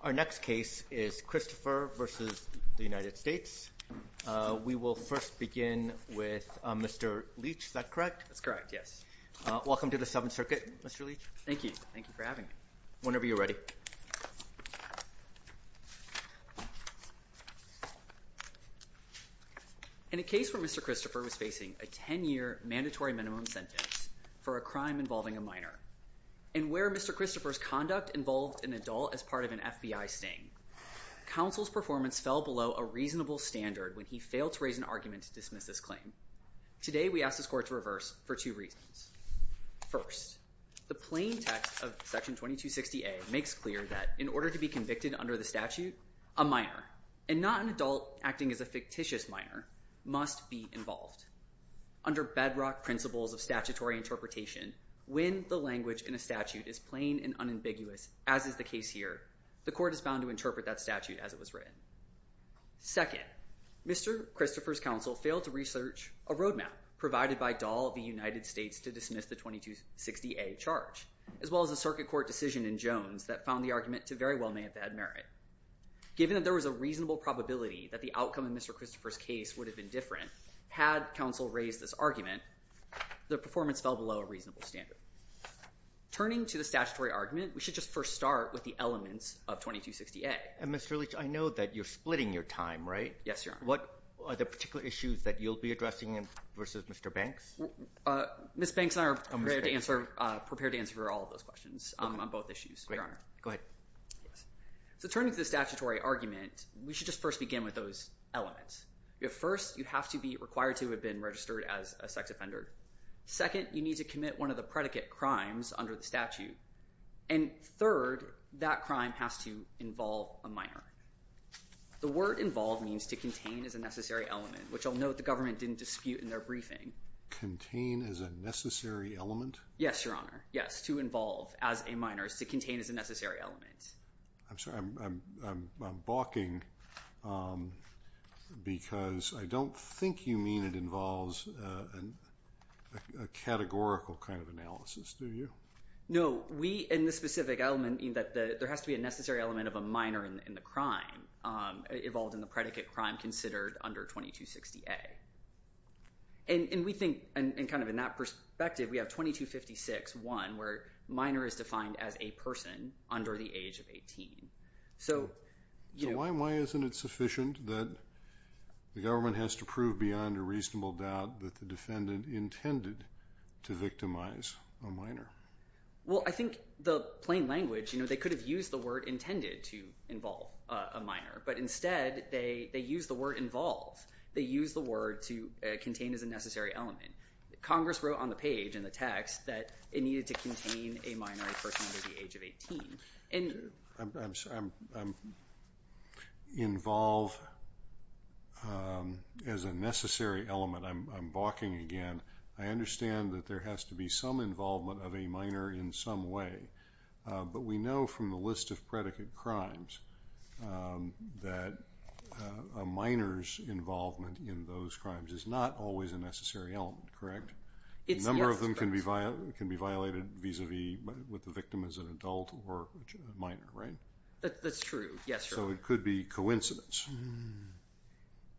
Our next case is Christopher v. United States. We will first begin with Mr. Leach. Is that correct? That's correct, yes. Welcome to the Seventh Circuit, Mr. Leach. Thank you. Thank you for having me. Whenever you're ready. In a case where Mr. Christopher was facing a 10-year mandatory minimum sentence for a crime involving a minor, and where Mr. Christopher's conduct involved an adult as part of an FBI sting, counsel's performance fell below a reasonable standard when he failed to raise an argument to dismiss this claim. Today we ask this court to reverse for two reasons. First, the plain text of Section 2260A makes clear that in order to be convicted under the statute, a minor, and not an adult acting as a fictitious minor, must be involved. Under bedrock principles of statutory interpretation, when the language in a statute is plain and ambiguous, as is the case here, the court is bound to interpret that statute as it was written. Second, Mr. Christopher's counsel failed to research a roadmap provided by Dahl of the United States to dismiss the 2260A charge, as well as a Circuit Court decision in Jones that found the argument to very well may have had merit. Given that there was a reasonable probability that the outcome of Mr. Christopher's case would have been different had counsel raised this argument, the performance fell below a reasonable standard. Turning to the statutory argument, we should just first start with the elements of 2260A. And Mr. Leach, I know that you're splitting your time, right? Yes, Your Honor. What are the particular issues that you'll be addressing versus Mr. Banks? Ms. Banks and I are prepared to answer all of those questions on both issues, Your Honor. Go ahead. So turning to the statutory argument, we should just first begin with those elements. First, you have to be required to have been registered as a sex offender. Second, you need to commit one of the predicate crimes under the statute. And third, that crime has to involve a minor. The word involve means to contain as a necessary element, which I'll note the government didn't dispute in their briefing. Contain as a necessary element? Yes, Your Honor. Yes, to involve as a minor is to contain as a necessary element. I'm sorry, I'm balking because I don't think you mean it involves a categorical kind of analysis, do you? No. We, in this specific element, mean that there has to be a necessary element of a minor in the crime, involved in the predicate crime considered under 2260A. And we think, and kind of in that perspective, we have 2256-1, where minor is defined as a person under the age of 18. So why isn't it sufficient that the government has to prove beyond a reasonable doubt that the defendant intended to victimize a minor? Well, I think the plain language, you know, they could have used the word intended to involve a minor, but instead they used the word involve. They used the word to contain as a necessary element. Congress wrote on the page, in the text, that it needed to contain a minor, a person under the age of 18. I'm sorry, involve as a necessary element, I'm balking again. I understand that there has to be some involvement of a minor in some way, but we know from the list of predicate crimes that a minor's involvement in those crimes is not always a necessary element, correct? A number of them can be violated vis-a-vis with the victim as an adult or a minor, right? That's true, yes. So it could be coincidence.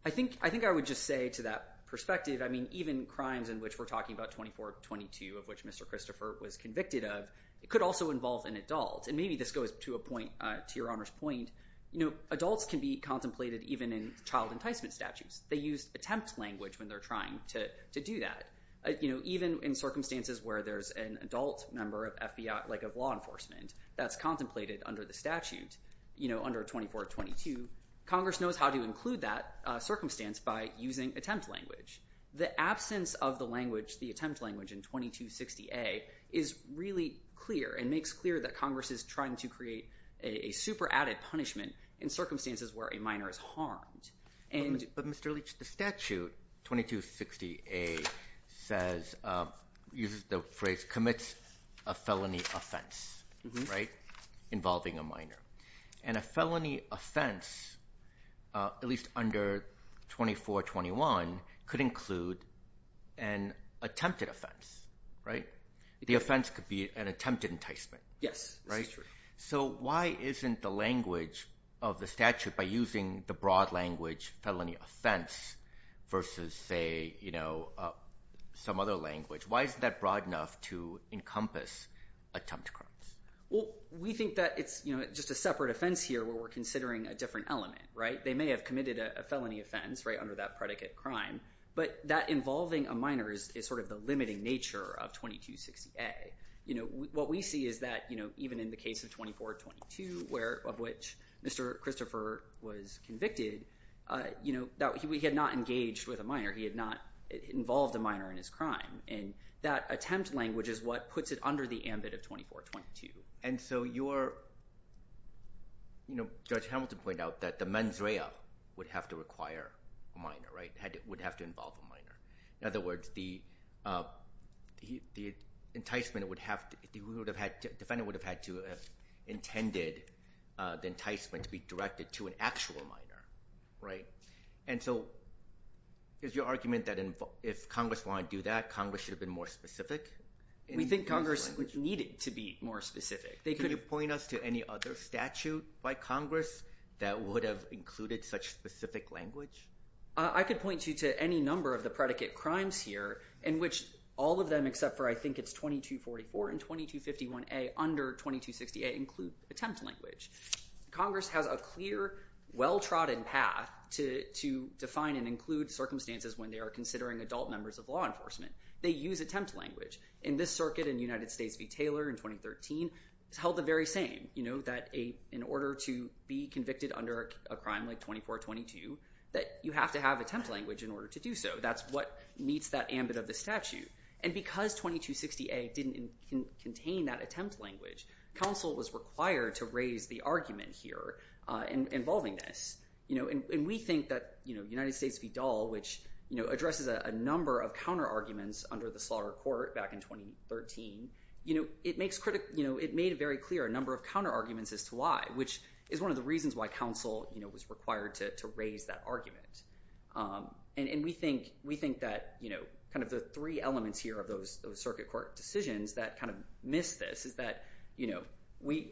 I think I would just say to that perspective, I mean, even crimes in which we're talking about 2422, of which Mr. Christopher was convicted of, it could also involve an adult. And maybe this goes to a point, to Your Honor's point, you know, adults can be contemplated even in child enticement statutes. They use attempt language when they're trying to do that. Even in circumstances where there's an adult member of FBI, like of law enforcement, that's contemplated under the statute, you know, under 2422, Congress knows how to include that circumstance by using attempt language. The absence of the language, the attempt language in 2260A, is really clear and makes clear that Congress is trying to create a super added punishment in circumstances where a minor is harmed. But Mr. Leach, the statute 2260A says, uses the phrase, commits a felony offense, right, involving a minor. And a felony offense, at least under 2421, could include an attempted offense, right? The offense could be an attempted enticement. Yes, that's true. So why isn't the language of the statute, by using the broad language felony offense versus, say, you know, some other language, why is that broad enough to encompass attempt crimes? Well, we think that it's, you know, just a separate offense here where we're considering a different element, right? They may have committed a felony offense, right, under that predicate crime. But that involving a minor is sort of the limiting nature of 2260A. You know, what we see is that, you know, even in the case of 2422, of which Mr. Christopher was convicted, you know, he had not engaged with a minor. He had not involved a minor in his crime. And that attempt language is what puts it under the ambit of 2422. And so your, you know, Judge Hamilton pointed out that the mens rea would have to require a minor, right, would have to involve a minor. In other words, the enticement would have to, the defendant would have had to have intended the enticement to be directed to an actual minor, right? And so is your argument that if Congress wanted to do that, Congress should have been more specific? We think Congress needed to be more specific. Can you point us to any other statute by Congress that would have included such specific language? I could point you to any number of the predicate crimes here, in which all of them, except for I think it's 2244 and 2251A under 2260A, include attempt language. Congress has a clear, well-trodden path to define and include circumstances when they are considering adult members of law enforcement. They use attempt language. In this circuit in United States v. Taylor in 2013, it's held the very same. In order to be convicted under a crime like 2422, that you have to have attempt language in order to do so. That's what meets that ambit of the statute. And because 2260A didn't contain that attempt language, counsel was required to raise the argument here involving this. And we think that United States v. Dahl, which addresses a number of counterarguments under the slaughter court back in 2013, it made it very clear a number of counterarguments as to why, which is one of the reasons why counsel was required to raise that argument. And we think that the three elements here of those circuit court decisions that miss this is that,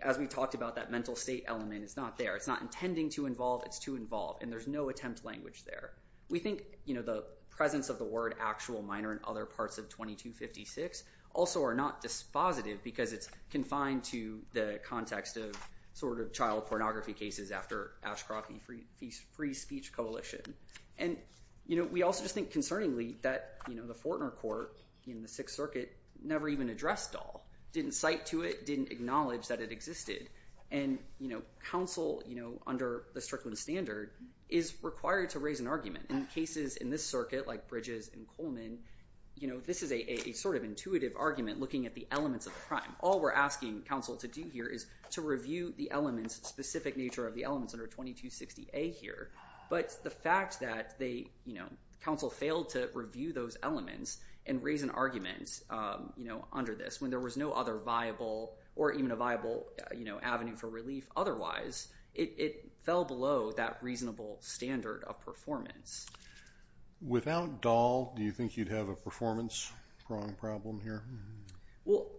as we talked about, that mental state element is not there. It's not intending to involve. It's to involve. And there's no attempt language there. We think the presence of the word actual minor in other parts of 2256 also are not dispositive because it's confined to the context of sort of child pornography cases after Ashcroft v. Free Speech Coalition. And we also just think concerningly that the Fortner court in the Sixth Circuit never even addressed Dahl. Didn't cite to it. Didn't acknowledge that it existed. And counsel, under the Strickland standard, is required to raise an argument. In cases in this circuit, like Bridges v. Coleman, this is a sort of intuitive argument looking at the elements of the crime. All we're asking counsel to do here is to review the specific nature of the elements under 2260A here. But the fact that counsel failed to review those elements and raise an argument under this when there was no other viable or even a viable avenue for relief otherwise, it fell below that reasonable standard of performance. Without Dahl, do you think you'd have a performance problem here? Well,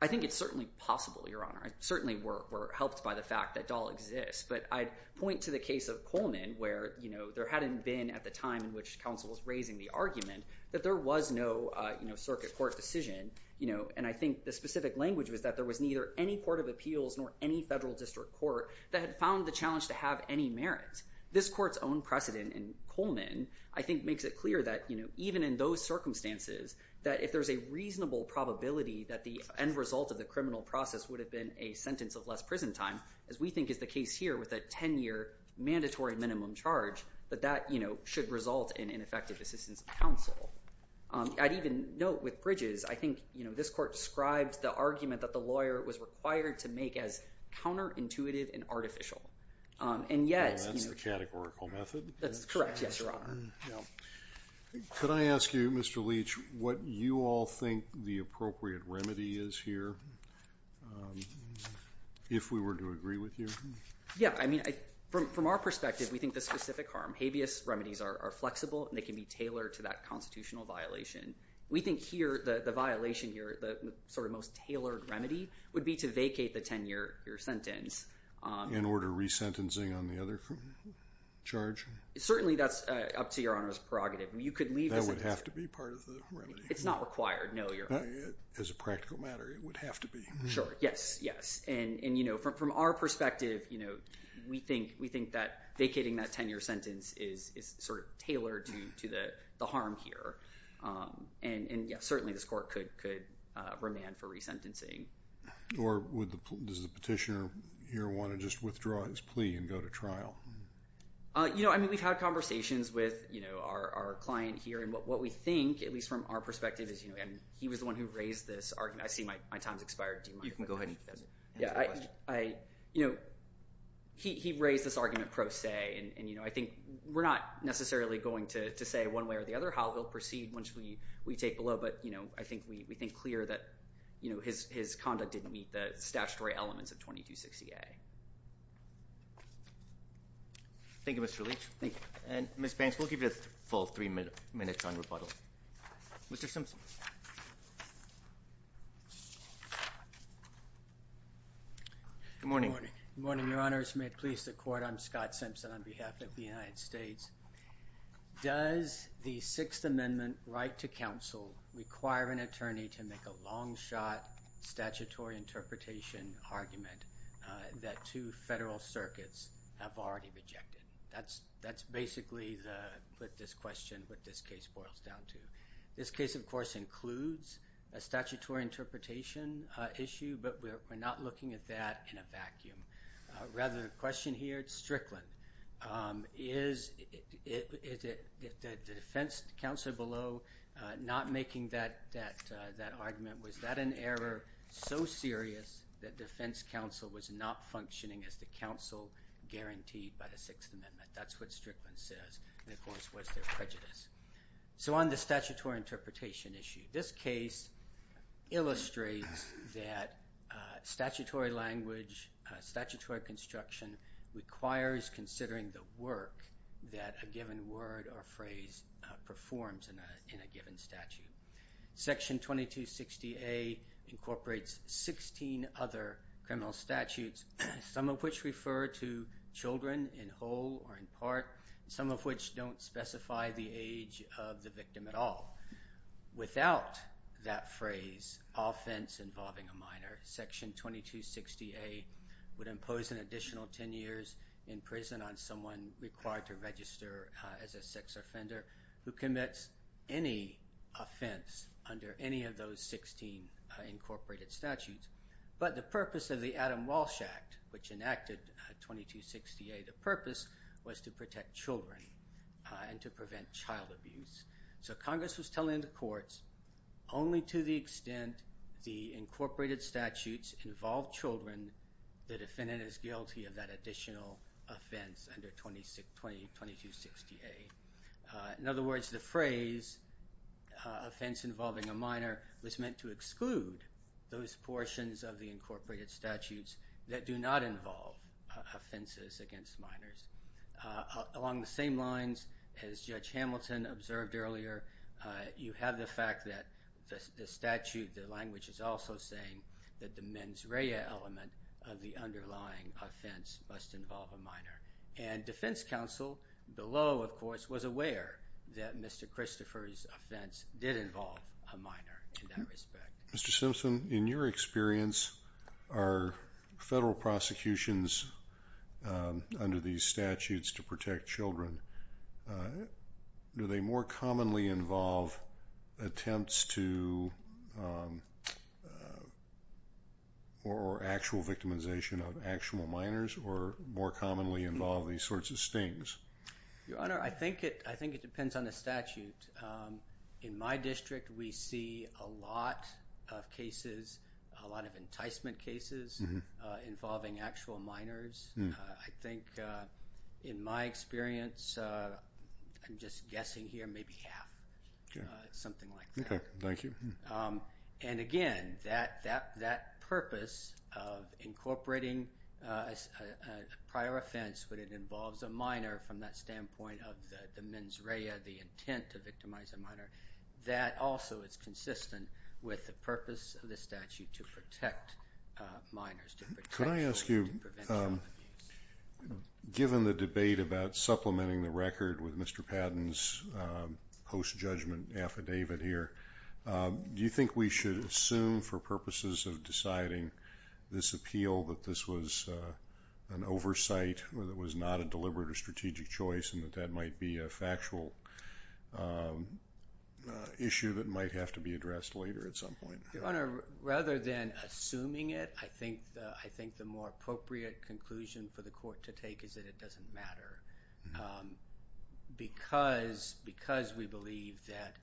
I think it's certainly possible, Your Honor. I certainly were helped by the fact that Dahl exists. But I'd point to the case of Coleman where there hadn't been at the time in which counsel was raising the argument that there was no circuit court decision. And I think the specific language was that there was neither any court of appeals nor any federal district court that had found the challenge to have any merit. This court's own precedent in Coleman, I think, makes it clear that even in those circumstances, that if there's a reasonable probability that the end result of the criminal process would have been a sentence of less prison time, as we think is the case here with a 10-year mandatory minimum charge, that that should result in ineffective assistance of counsel. I'd even note with Bridges, I think this court describes the argument that the lawyer was required to make as counterintuitive and artificial. And yet— And that's the categorical method? That's correct, yes, Your Honor. Could I ask you, Mr. Leach, what you all think the appropriate remedy is here, if we were to agree with you? Yeah, I mean, from our perspective, we think the specific harm. Habeas remedies are flexible, and they can be tailored to that constitutional violation. We think here, the violation here, the sort of most tailored remedy, would be to vacate the 10-year sentence. In order, resentencing on the other charge? Certainly, that's up to Your Honor's prerogative. You could leave— That would have to be part of the remedy. It's not required, no. As a practical matter, it would have to be. Sure, yes, yes. From our perspective, we think that vacating that 10-year sentence is sort of tailored to the harm here. And yes, certainly, this court could remand for resentencing. Or does the petitioner here want to just withdraw his plea and go to trial? You know, I mean, we've had conversations with our client here, and what we think, at least from our perspective, is—and he was the one who raised this argument. I see my time's expired. Do you want to go ahead? Yeah, I—you know, he raised this argument pro se, and, you know, I think we're not necessarily going to say one way or the other. However, we'll proceed once we take below. But, you know, I think we think clear that, you know, his conduct didn't meet the statutory elements of 2260A. Thank you, Mr. Leach. Thank you. And Ms. Banks, we'll give you a full three minutes on rebuttal. Mr. Simpson. Good morning. Good morning. Good morning, Your Honors. May it please the Court. I'm Scott Simpson on behalf of the United States. Does the Sixth Amendment right to counsel require an attorney to make a long-shot statutory interpretation argument that two federal circuits have already rejected? That's basically the—with this question, what this case boils down to. This case, of course, includes a statutory interpretation issue, but we're not looking at that in a vacuum. Rather, the question here, Strickland, is the defense counsel below not making that argument? Was that an error so serious that defense counsel was not functioning as the counsel guaranteed by the Sixth Amendment? That's what Strickland says. And, of course, was there prejudice? So on the statutory interpretation issue, this case illustrates that statutory language, statutory construction requires considering the work that a given word or phrase performs in a given statute. Section 2260A incorporates 16 other criminal statutes, some of which refer to children in whole or in part, some of which don't specify the age of the victim at all. Without that phrase, offense involving a minor, Section 2260A would impose an additional 10 years in prison on someone required to register as a sex offender who commits any offense under any of those 16 incorporated statutes. But the purpose of the Adam Walsh Act, which enacted 2260A, the purpose was to protect children and to prevent child abuse. So Congress was telling the courts only to the extent the incorporated statutes involve children, the defendant is guilty of that additional offense under 2260A. In other words, the phrase offense involving a minor was meant to exclude those portions of the incorporated statutes that do not involve offenses against minors. Along the same lines, as Judge Hamilton observed earlier, you have the fact that the statute, the language is also saying that the mens rea element of the underlying offense must involve a minor. And defense counsel below, of course, was aware that Mr. Christopher's offense did involve a minor in that respect. Mr. Simpson, in your experience, are federal prosecutions under these statutes to protect children, do they more commonly involve attempts to... or actual victimization of actual minors or more commonly involve these sorts of stings? Your Honor, I think it depends on the statute. In my district, we see a lot of cases, a lot of enticement cases involving actual minors. I think in my experience, I'm just guessing here, maybe half, something like that. Okay, thank you. And again, that purpose of incorporating a prior offense when it involves a minor from that standpoint of the mens rea, the intent to victimize a minor, that also is consistent with the purpose of the statute to protect minors. Could I ask you, given the debate about supplementing the record with Mr. Patton's post-judgment affidavit here, do you think we should assume for purposes of deciding this appeal that this was an oversight, or that it was not a deliberate or strategic choice and that that might be a factual issue that might have to be addressed later at some point? Your Honor, rather than assuming it, I think the more appropriate conclusion for the court to take is that it doesn't matter because we believe that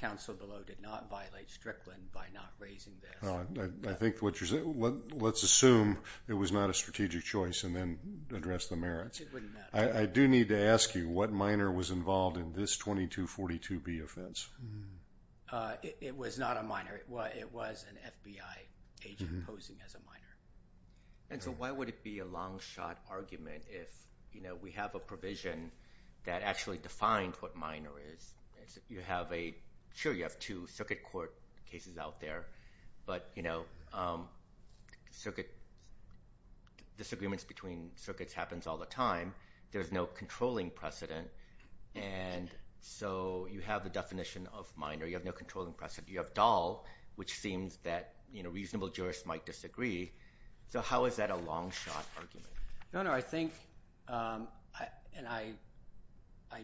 counsel below did not violate Strickland by not raising this. Let's assume it was not a strategic choice and then address the merits. It wouldn't matter. I do need to ask you, what minor was involved in this 2242B offense? It was not a minor. It was an FBI agent posing as a minor. And so why would it be a long-shot argument if we have a provision that actually defined what minor is? Sure, you have two circuit court cases out there, but disagreements between circuits happens all the time. There's no controlling precedent, and so you have the definition of minor. You have no controlling precedent. You have Dahl, which seems that reasonable jurists might disagree. So how is that a long-shot argument? Your Honor, I think, and I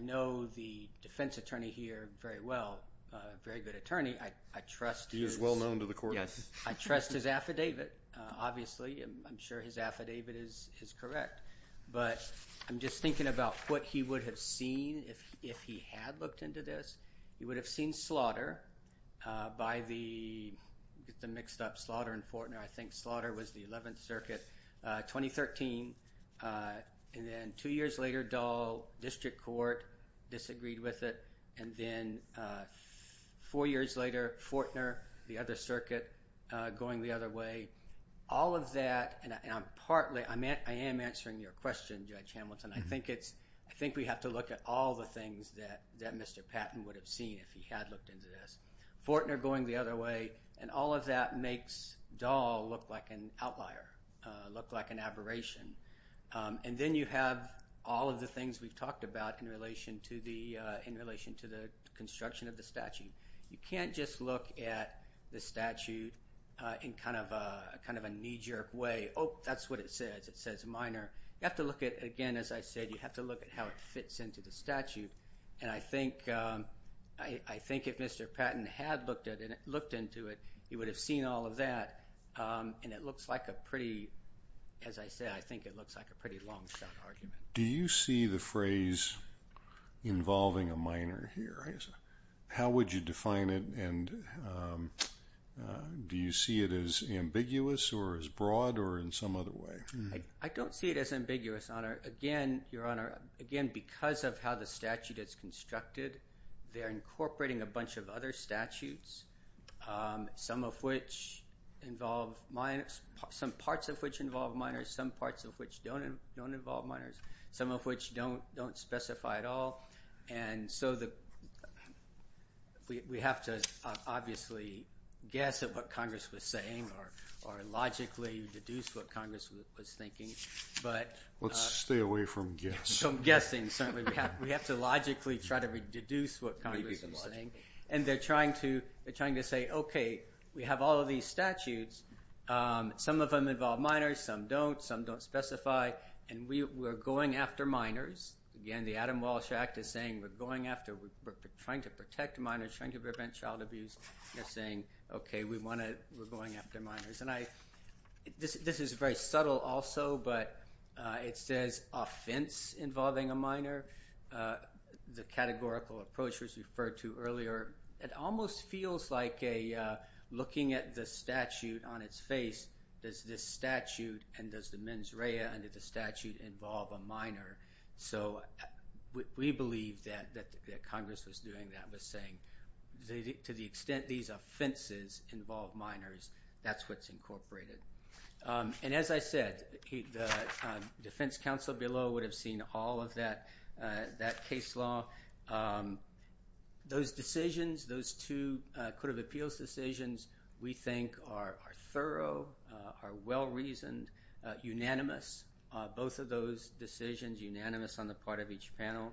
know the defense attorney here very well, very good attorney. I trust his... He is well known to the court. Yes. I trust his affidavit. Obviously, I'm sure his affidavit is correct, but I'm just thinking about what he would have seen if he had looked into this. He would have seen slaughter by the mixed up slaughter in Fortner. I think slaughter was the 11th Circuit, 2013. And then two years later, Dahl, district court, disagreed with it. And then four years later, Fortner, the other circuit, going the other way. All of that, and I'm partly... I am answering your question, Judge Hamilton. I think we have to look at all the things that Mr. Patton would have seen if he had looked into this. Fortner going the other way, and all of that makes Dahl look like an outlier, look like an aberration. And then you have all of the things we've talked about in relation to the construction of the statute. You can't just look at the statute in kind of a knee-jerk way. Oh, that's what it says. It says minor. You have to look at, again, as I said, you have to look at how it fits into the statute. And I think if Mr. Patton had looked into it, he would have seen all of that. And it looks like a pretty, as I said, I think it looks like a pretty long-shot argument. Do you see the phrase involving a minor here? How would you define it? And do you see it as ambiguous or as broad or in some other way? I don't see it as ambiguous, Your Honor. Again, Your Honor, again, because of how the statute is constructed, they're incorporating a bunch of other statutes, some of which involve minors, some parts of which involve minors, some parts of which don't involve minors, some of which don't specify at all. And so we have to obviously guess at what Congress was saying or logically deduce what Congress was thinking. But... Let's stay away from guess. From guessing, certainly. We have to logically try to deduce what Congress was saying. And they're trying to say, okay, we have all of these statutes. Some of them involve minors, some don't, some don't specify. And we're going after minors. Again, the Adam Walsh Act is saying we're going after, we're trying to protect minors, trying to prevent child abuse. They're saying, okay, we want to, we're going after minors. And I, this is very subtle also, but it says offense involving a minor. The categorical approach was referred to earlier. It almost feels like a, looking at the statute on its face, does this statute and does the mens rea under the statute involve a minor? So we believe that Congress was doing that, was saying to the extent these offenses involve minors, that's what's incorporated. And as I said, the defense counsel below would have seen all of that case law. Those decisions, those two Court of Appeals decisions, we think are thorough, are well-reasoned, unanimous, both of those decisions unanimous on the part of each panel.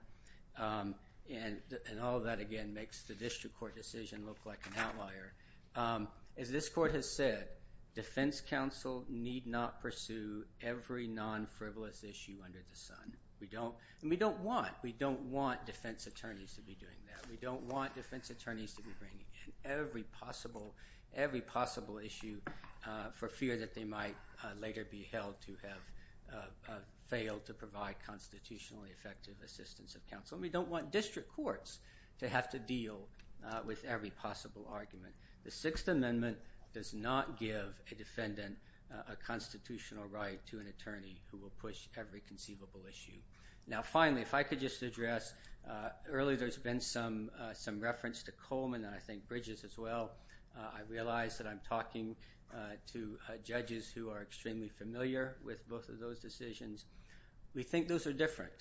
And all of that, again, makes the district court decision look like an outlier. As this court has said, defense counsel need not pursue every non-frivolous issue under the sun. We don't, and we don't want, we don't want defense attorneys to be doing that. We don't want defense attorneys to be bringing in every possible, every possible issue for fear that they might later be held to have failed to provide constitutionally effective assistance of counsel. And we don't want district courts to have to deal with every possible argument. The Sixth Amendment does not give a defendant a constitutional right to an attorney who will push every conceivable issue. Now, finally, if I could just address, earlier there's been some reference to Coleman and I think Bridges as well. I realize that I'm talking to judges who are extremely familiar with both of those decisions. We think those are different.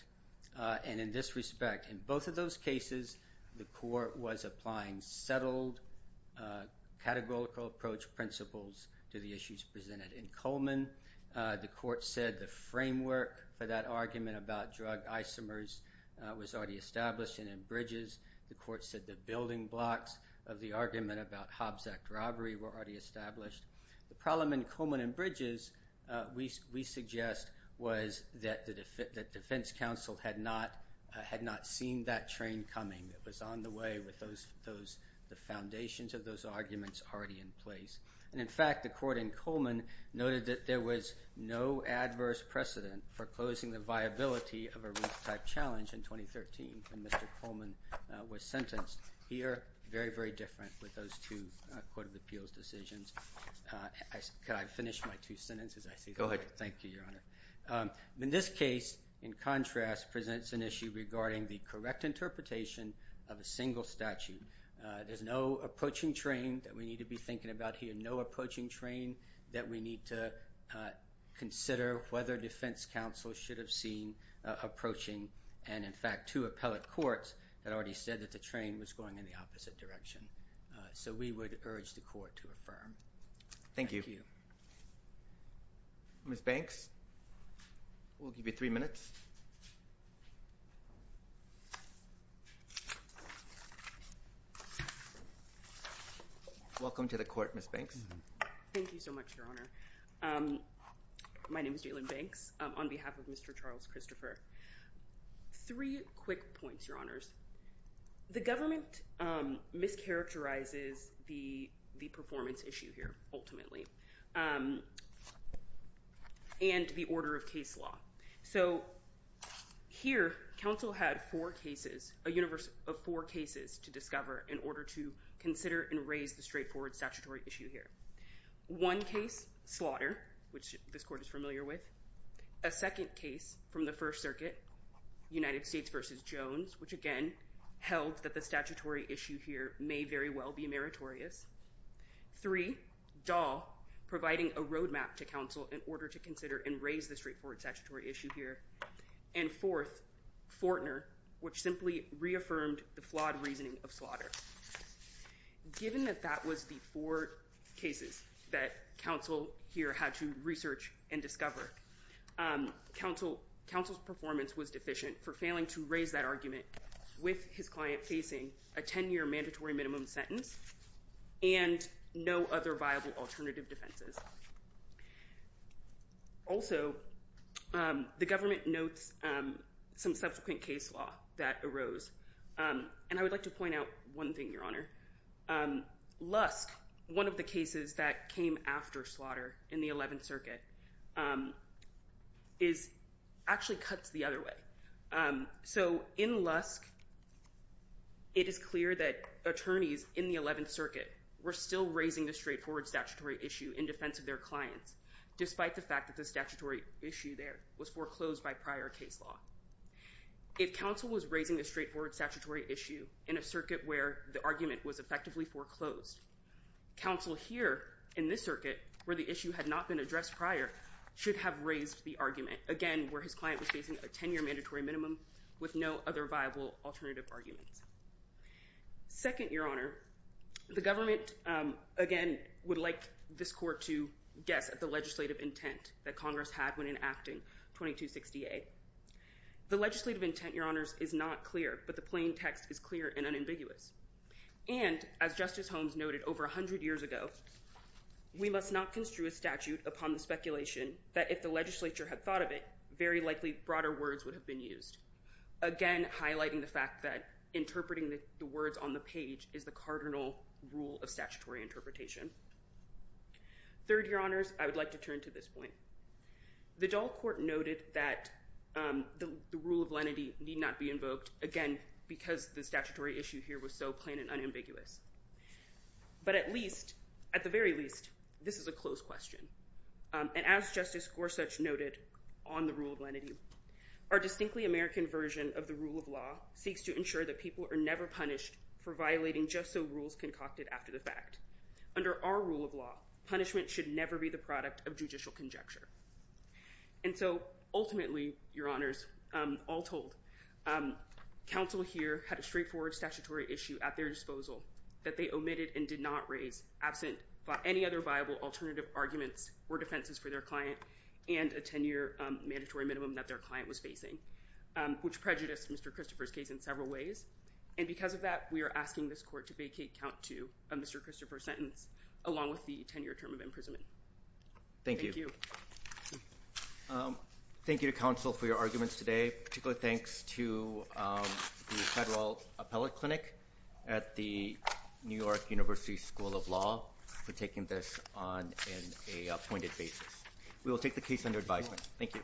And in this respect, in both of those cases, the court was applying settled categorical approach principles to the issues presented in Coleman. The court said the framework for that argument about drug isomers was already established. And in Bridges, the court said the building blocks of the argument about Hobbs Act robbery were already established. The problem in Coleman and Bridges, we suggest was that the defense counsel had not seen that train coming that was on the way with the foundations of those arguments already in place. And in fact, the court in Coleman noted that there was no adverse precedent for closing the viability of a roof-type challenge in 2013 when Mr. Coleman was sentenced. Here, very, very different with those two Court of Appeals decisions. Can I finish my two sentences? I see. Thank you, Your Honor. In this case, in contrast, presents an issue regarding the correct interpretation of a single statute. There's no approaching train that we need to be thinking about here. No approaching train that we need to consider whether defense counsel should have seen approaching. And in fact, two appellate courts that already said that the train was going in the opposite direction. So we would urge the court to affirm. Thank you. Ms. Banks, we'll give you three minutes. Welcome to the court, Ms. Banks. Thank you so much, Your Honor. My name is Jalyn Banks on behalf of Mr. Charles Christopher. Three quick points, Your Honors. The government mischaracterizes the performance issue here, ultimately. And the order of case law. So here, counsel had four cases, a universal case, of four cases to discover in order to consider and raise the straightforward statutory issue here. One case, slaughter, which this court is familiar with. A second case from the First Circuit, United States v. Jones, which again held that the statutory issue here may very well be meritorious. Three, Dahl providing a roadmap to counsel in order to consider and raise the straightforward statutory issue here. And fourth, Fortner, which simply reaffirmed the flawed reasoning of slaughter. Given that that was the four cases that counsel here had to research and discover, counsel's performance was deficient for failing to raise that argument with his client facing a 10-year mandatory minimum sentence and no other viable alternative defenses. Also, the government notes some subsequent case law that arose. And I would like to point out one thing, Your Honor. Lusk, one of the cases that came after slaughter in the 11th Circuit, is actually cut the other way. So in Lusk, it is clear that attorneys in the 11th Circuit were still raising the straightforward statutory issue in defense of their clients, despite the fact that the statutory issue there was foreclosed by prior case law. If counsel was raising a straightforward statutory issue in a circuit where the argument was effectively foreclosed, counsel here in this circuit, where the issue had not been addressed prior, should have raised the argument, again, where his client was facing a 10-year mandatory minimum with no other viable alternative arguments. Second, Your Honor, the government, again, would like this court to guess at the legislative intent that Congress had when enacting 2260A. The legislative intent, Your Honors, is not clear, but the plain text is clear and unambiguous. And as Justice Holmes noted over 100 years ago, we must not construe a statute upon the speculation that if the legislature had thought of it, very likely broader words would have been used. Again, highlighting the fact that interpreting the words on the page is the cardinal rule of statutory interpretation. Third, Your Honors, I would like to turn to this point. The Dahl Court noted that the rule of lenity need not be invoked, again, because the statutory issue here was so plain and unambiguous. But at least, at the very least, this is a close question. And as Justice Gorsuch noted on the rule of lenity, our distinctly American version of the rule of law seeks to ensure that people are never punished for violating just so rules concocted after the fact. Under our rule of law, punishment should never be the product of judicial conjecture. And so ultimately, Your Honors, all told, counsel here had a straightforward statutory issue at their disposal that they omitted and did not raise absent by any other viable alternative arguments or defenses for their client and a 10-year mandatory minimum that their client was facing, which prejudiced Mr. Christopher's case in several ways. And because of that, we are asking this court to vacate count two of Mr. Christopher's sentence, along with the 10-year term of imprisonment. Thank you. Thank you to counsel for your arguments today. Particularly thanks to the Federal Appellate Clinic at the New York University School of Law for taking this on an appointed basis. We will take the case under advisement. Thank you.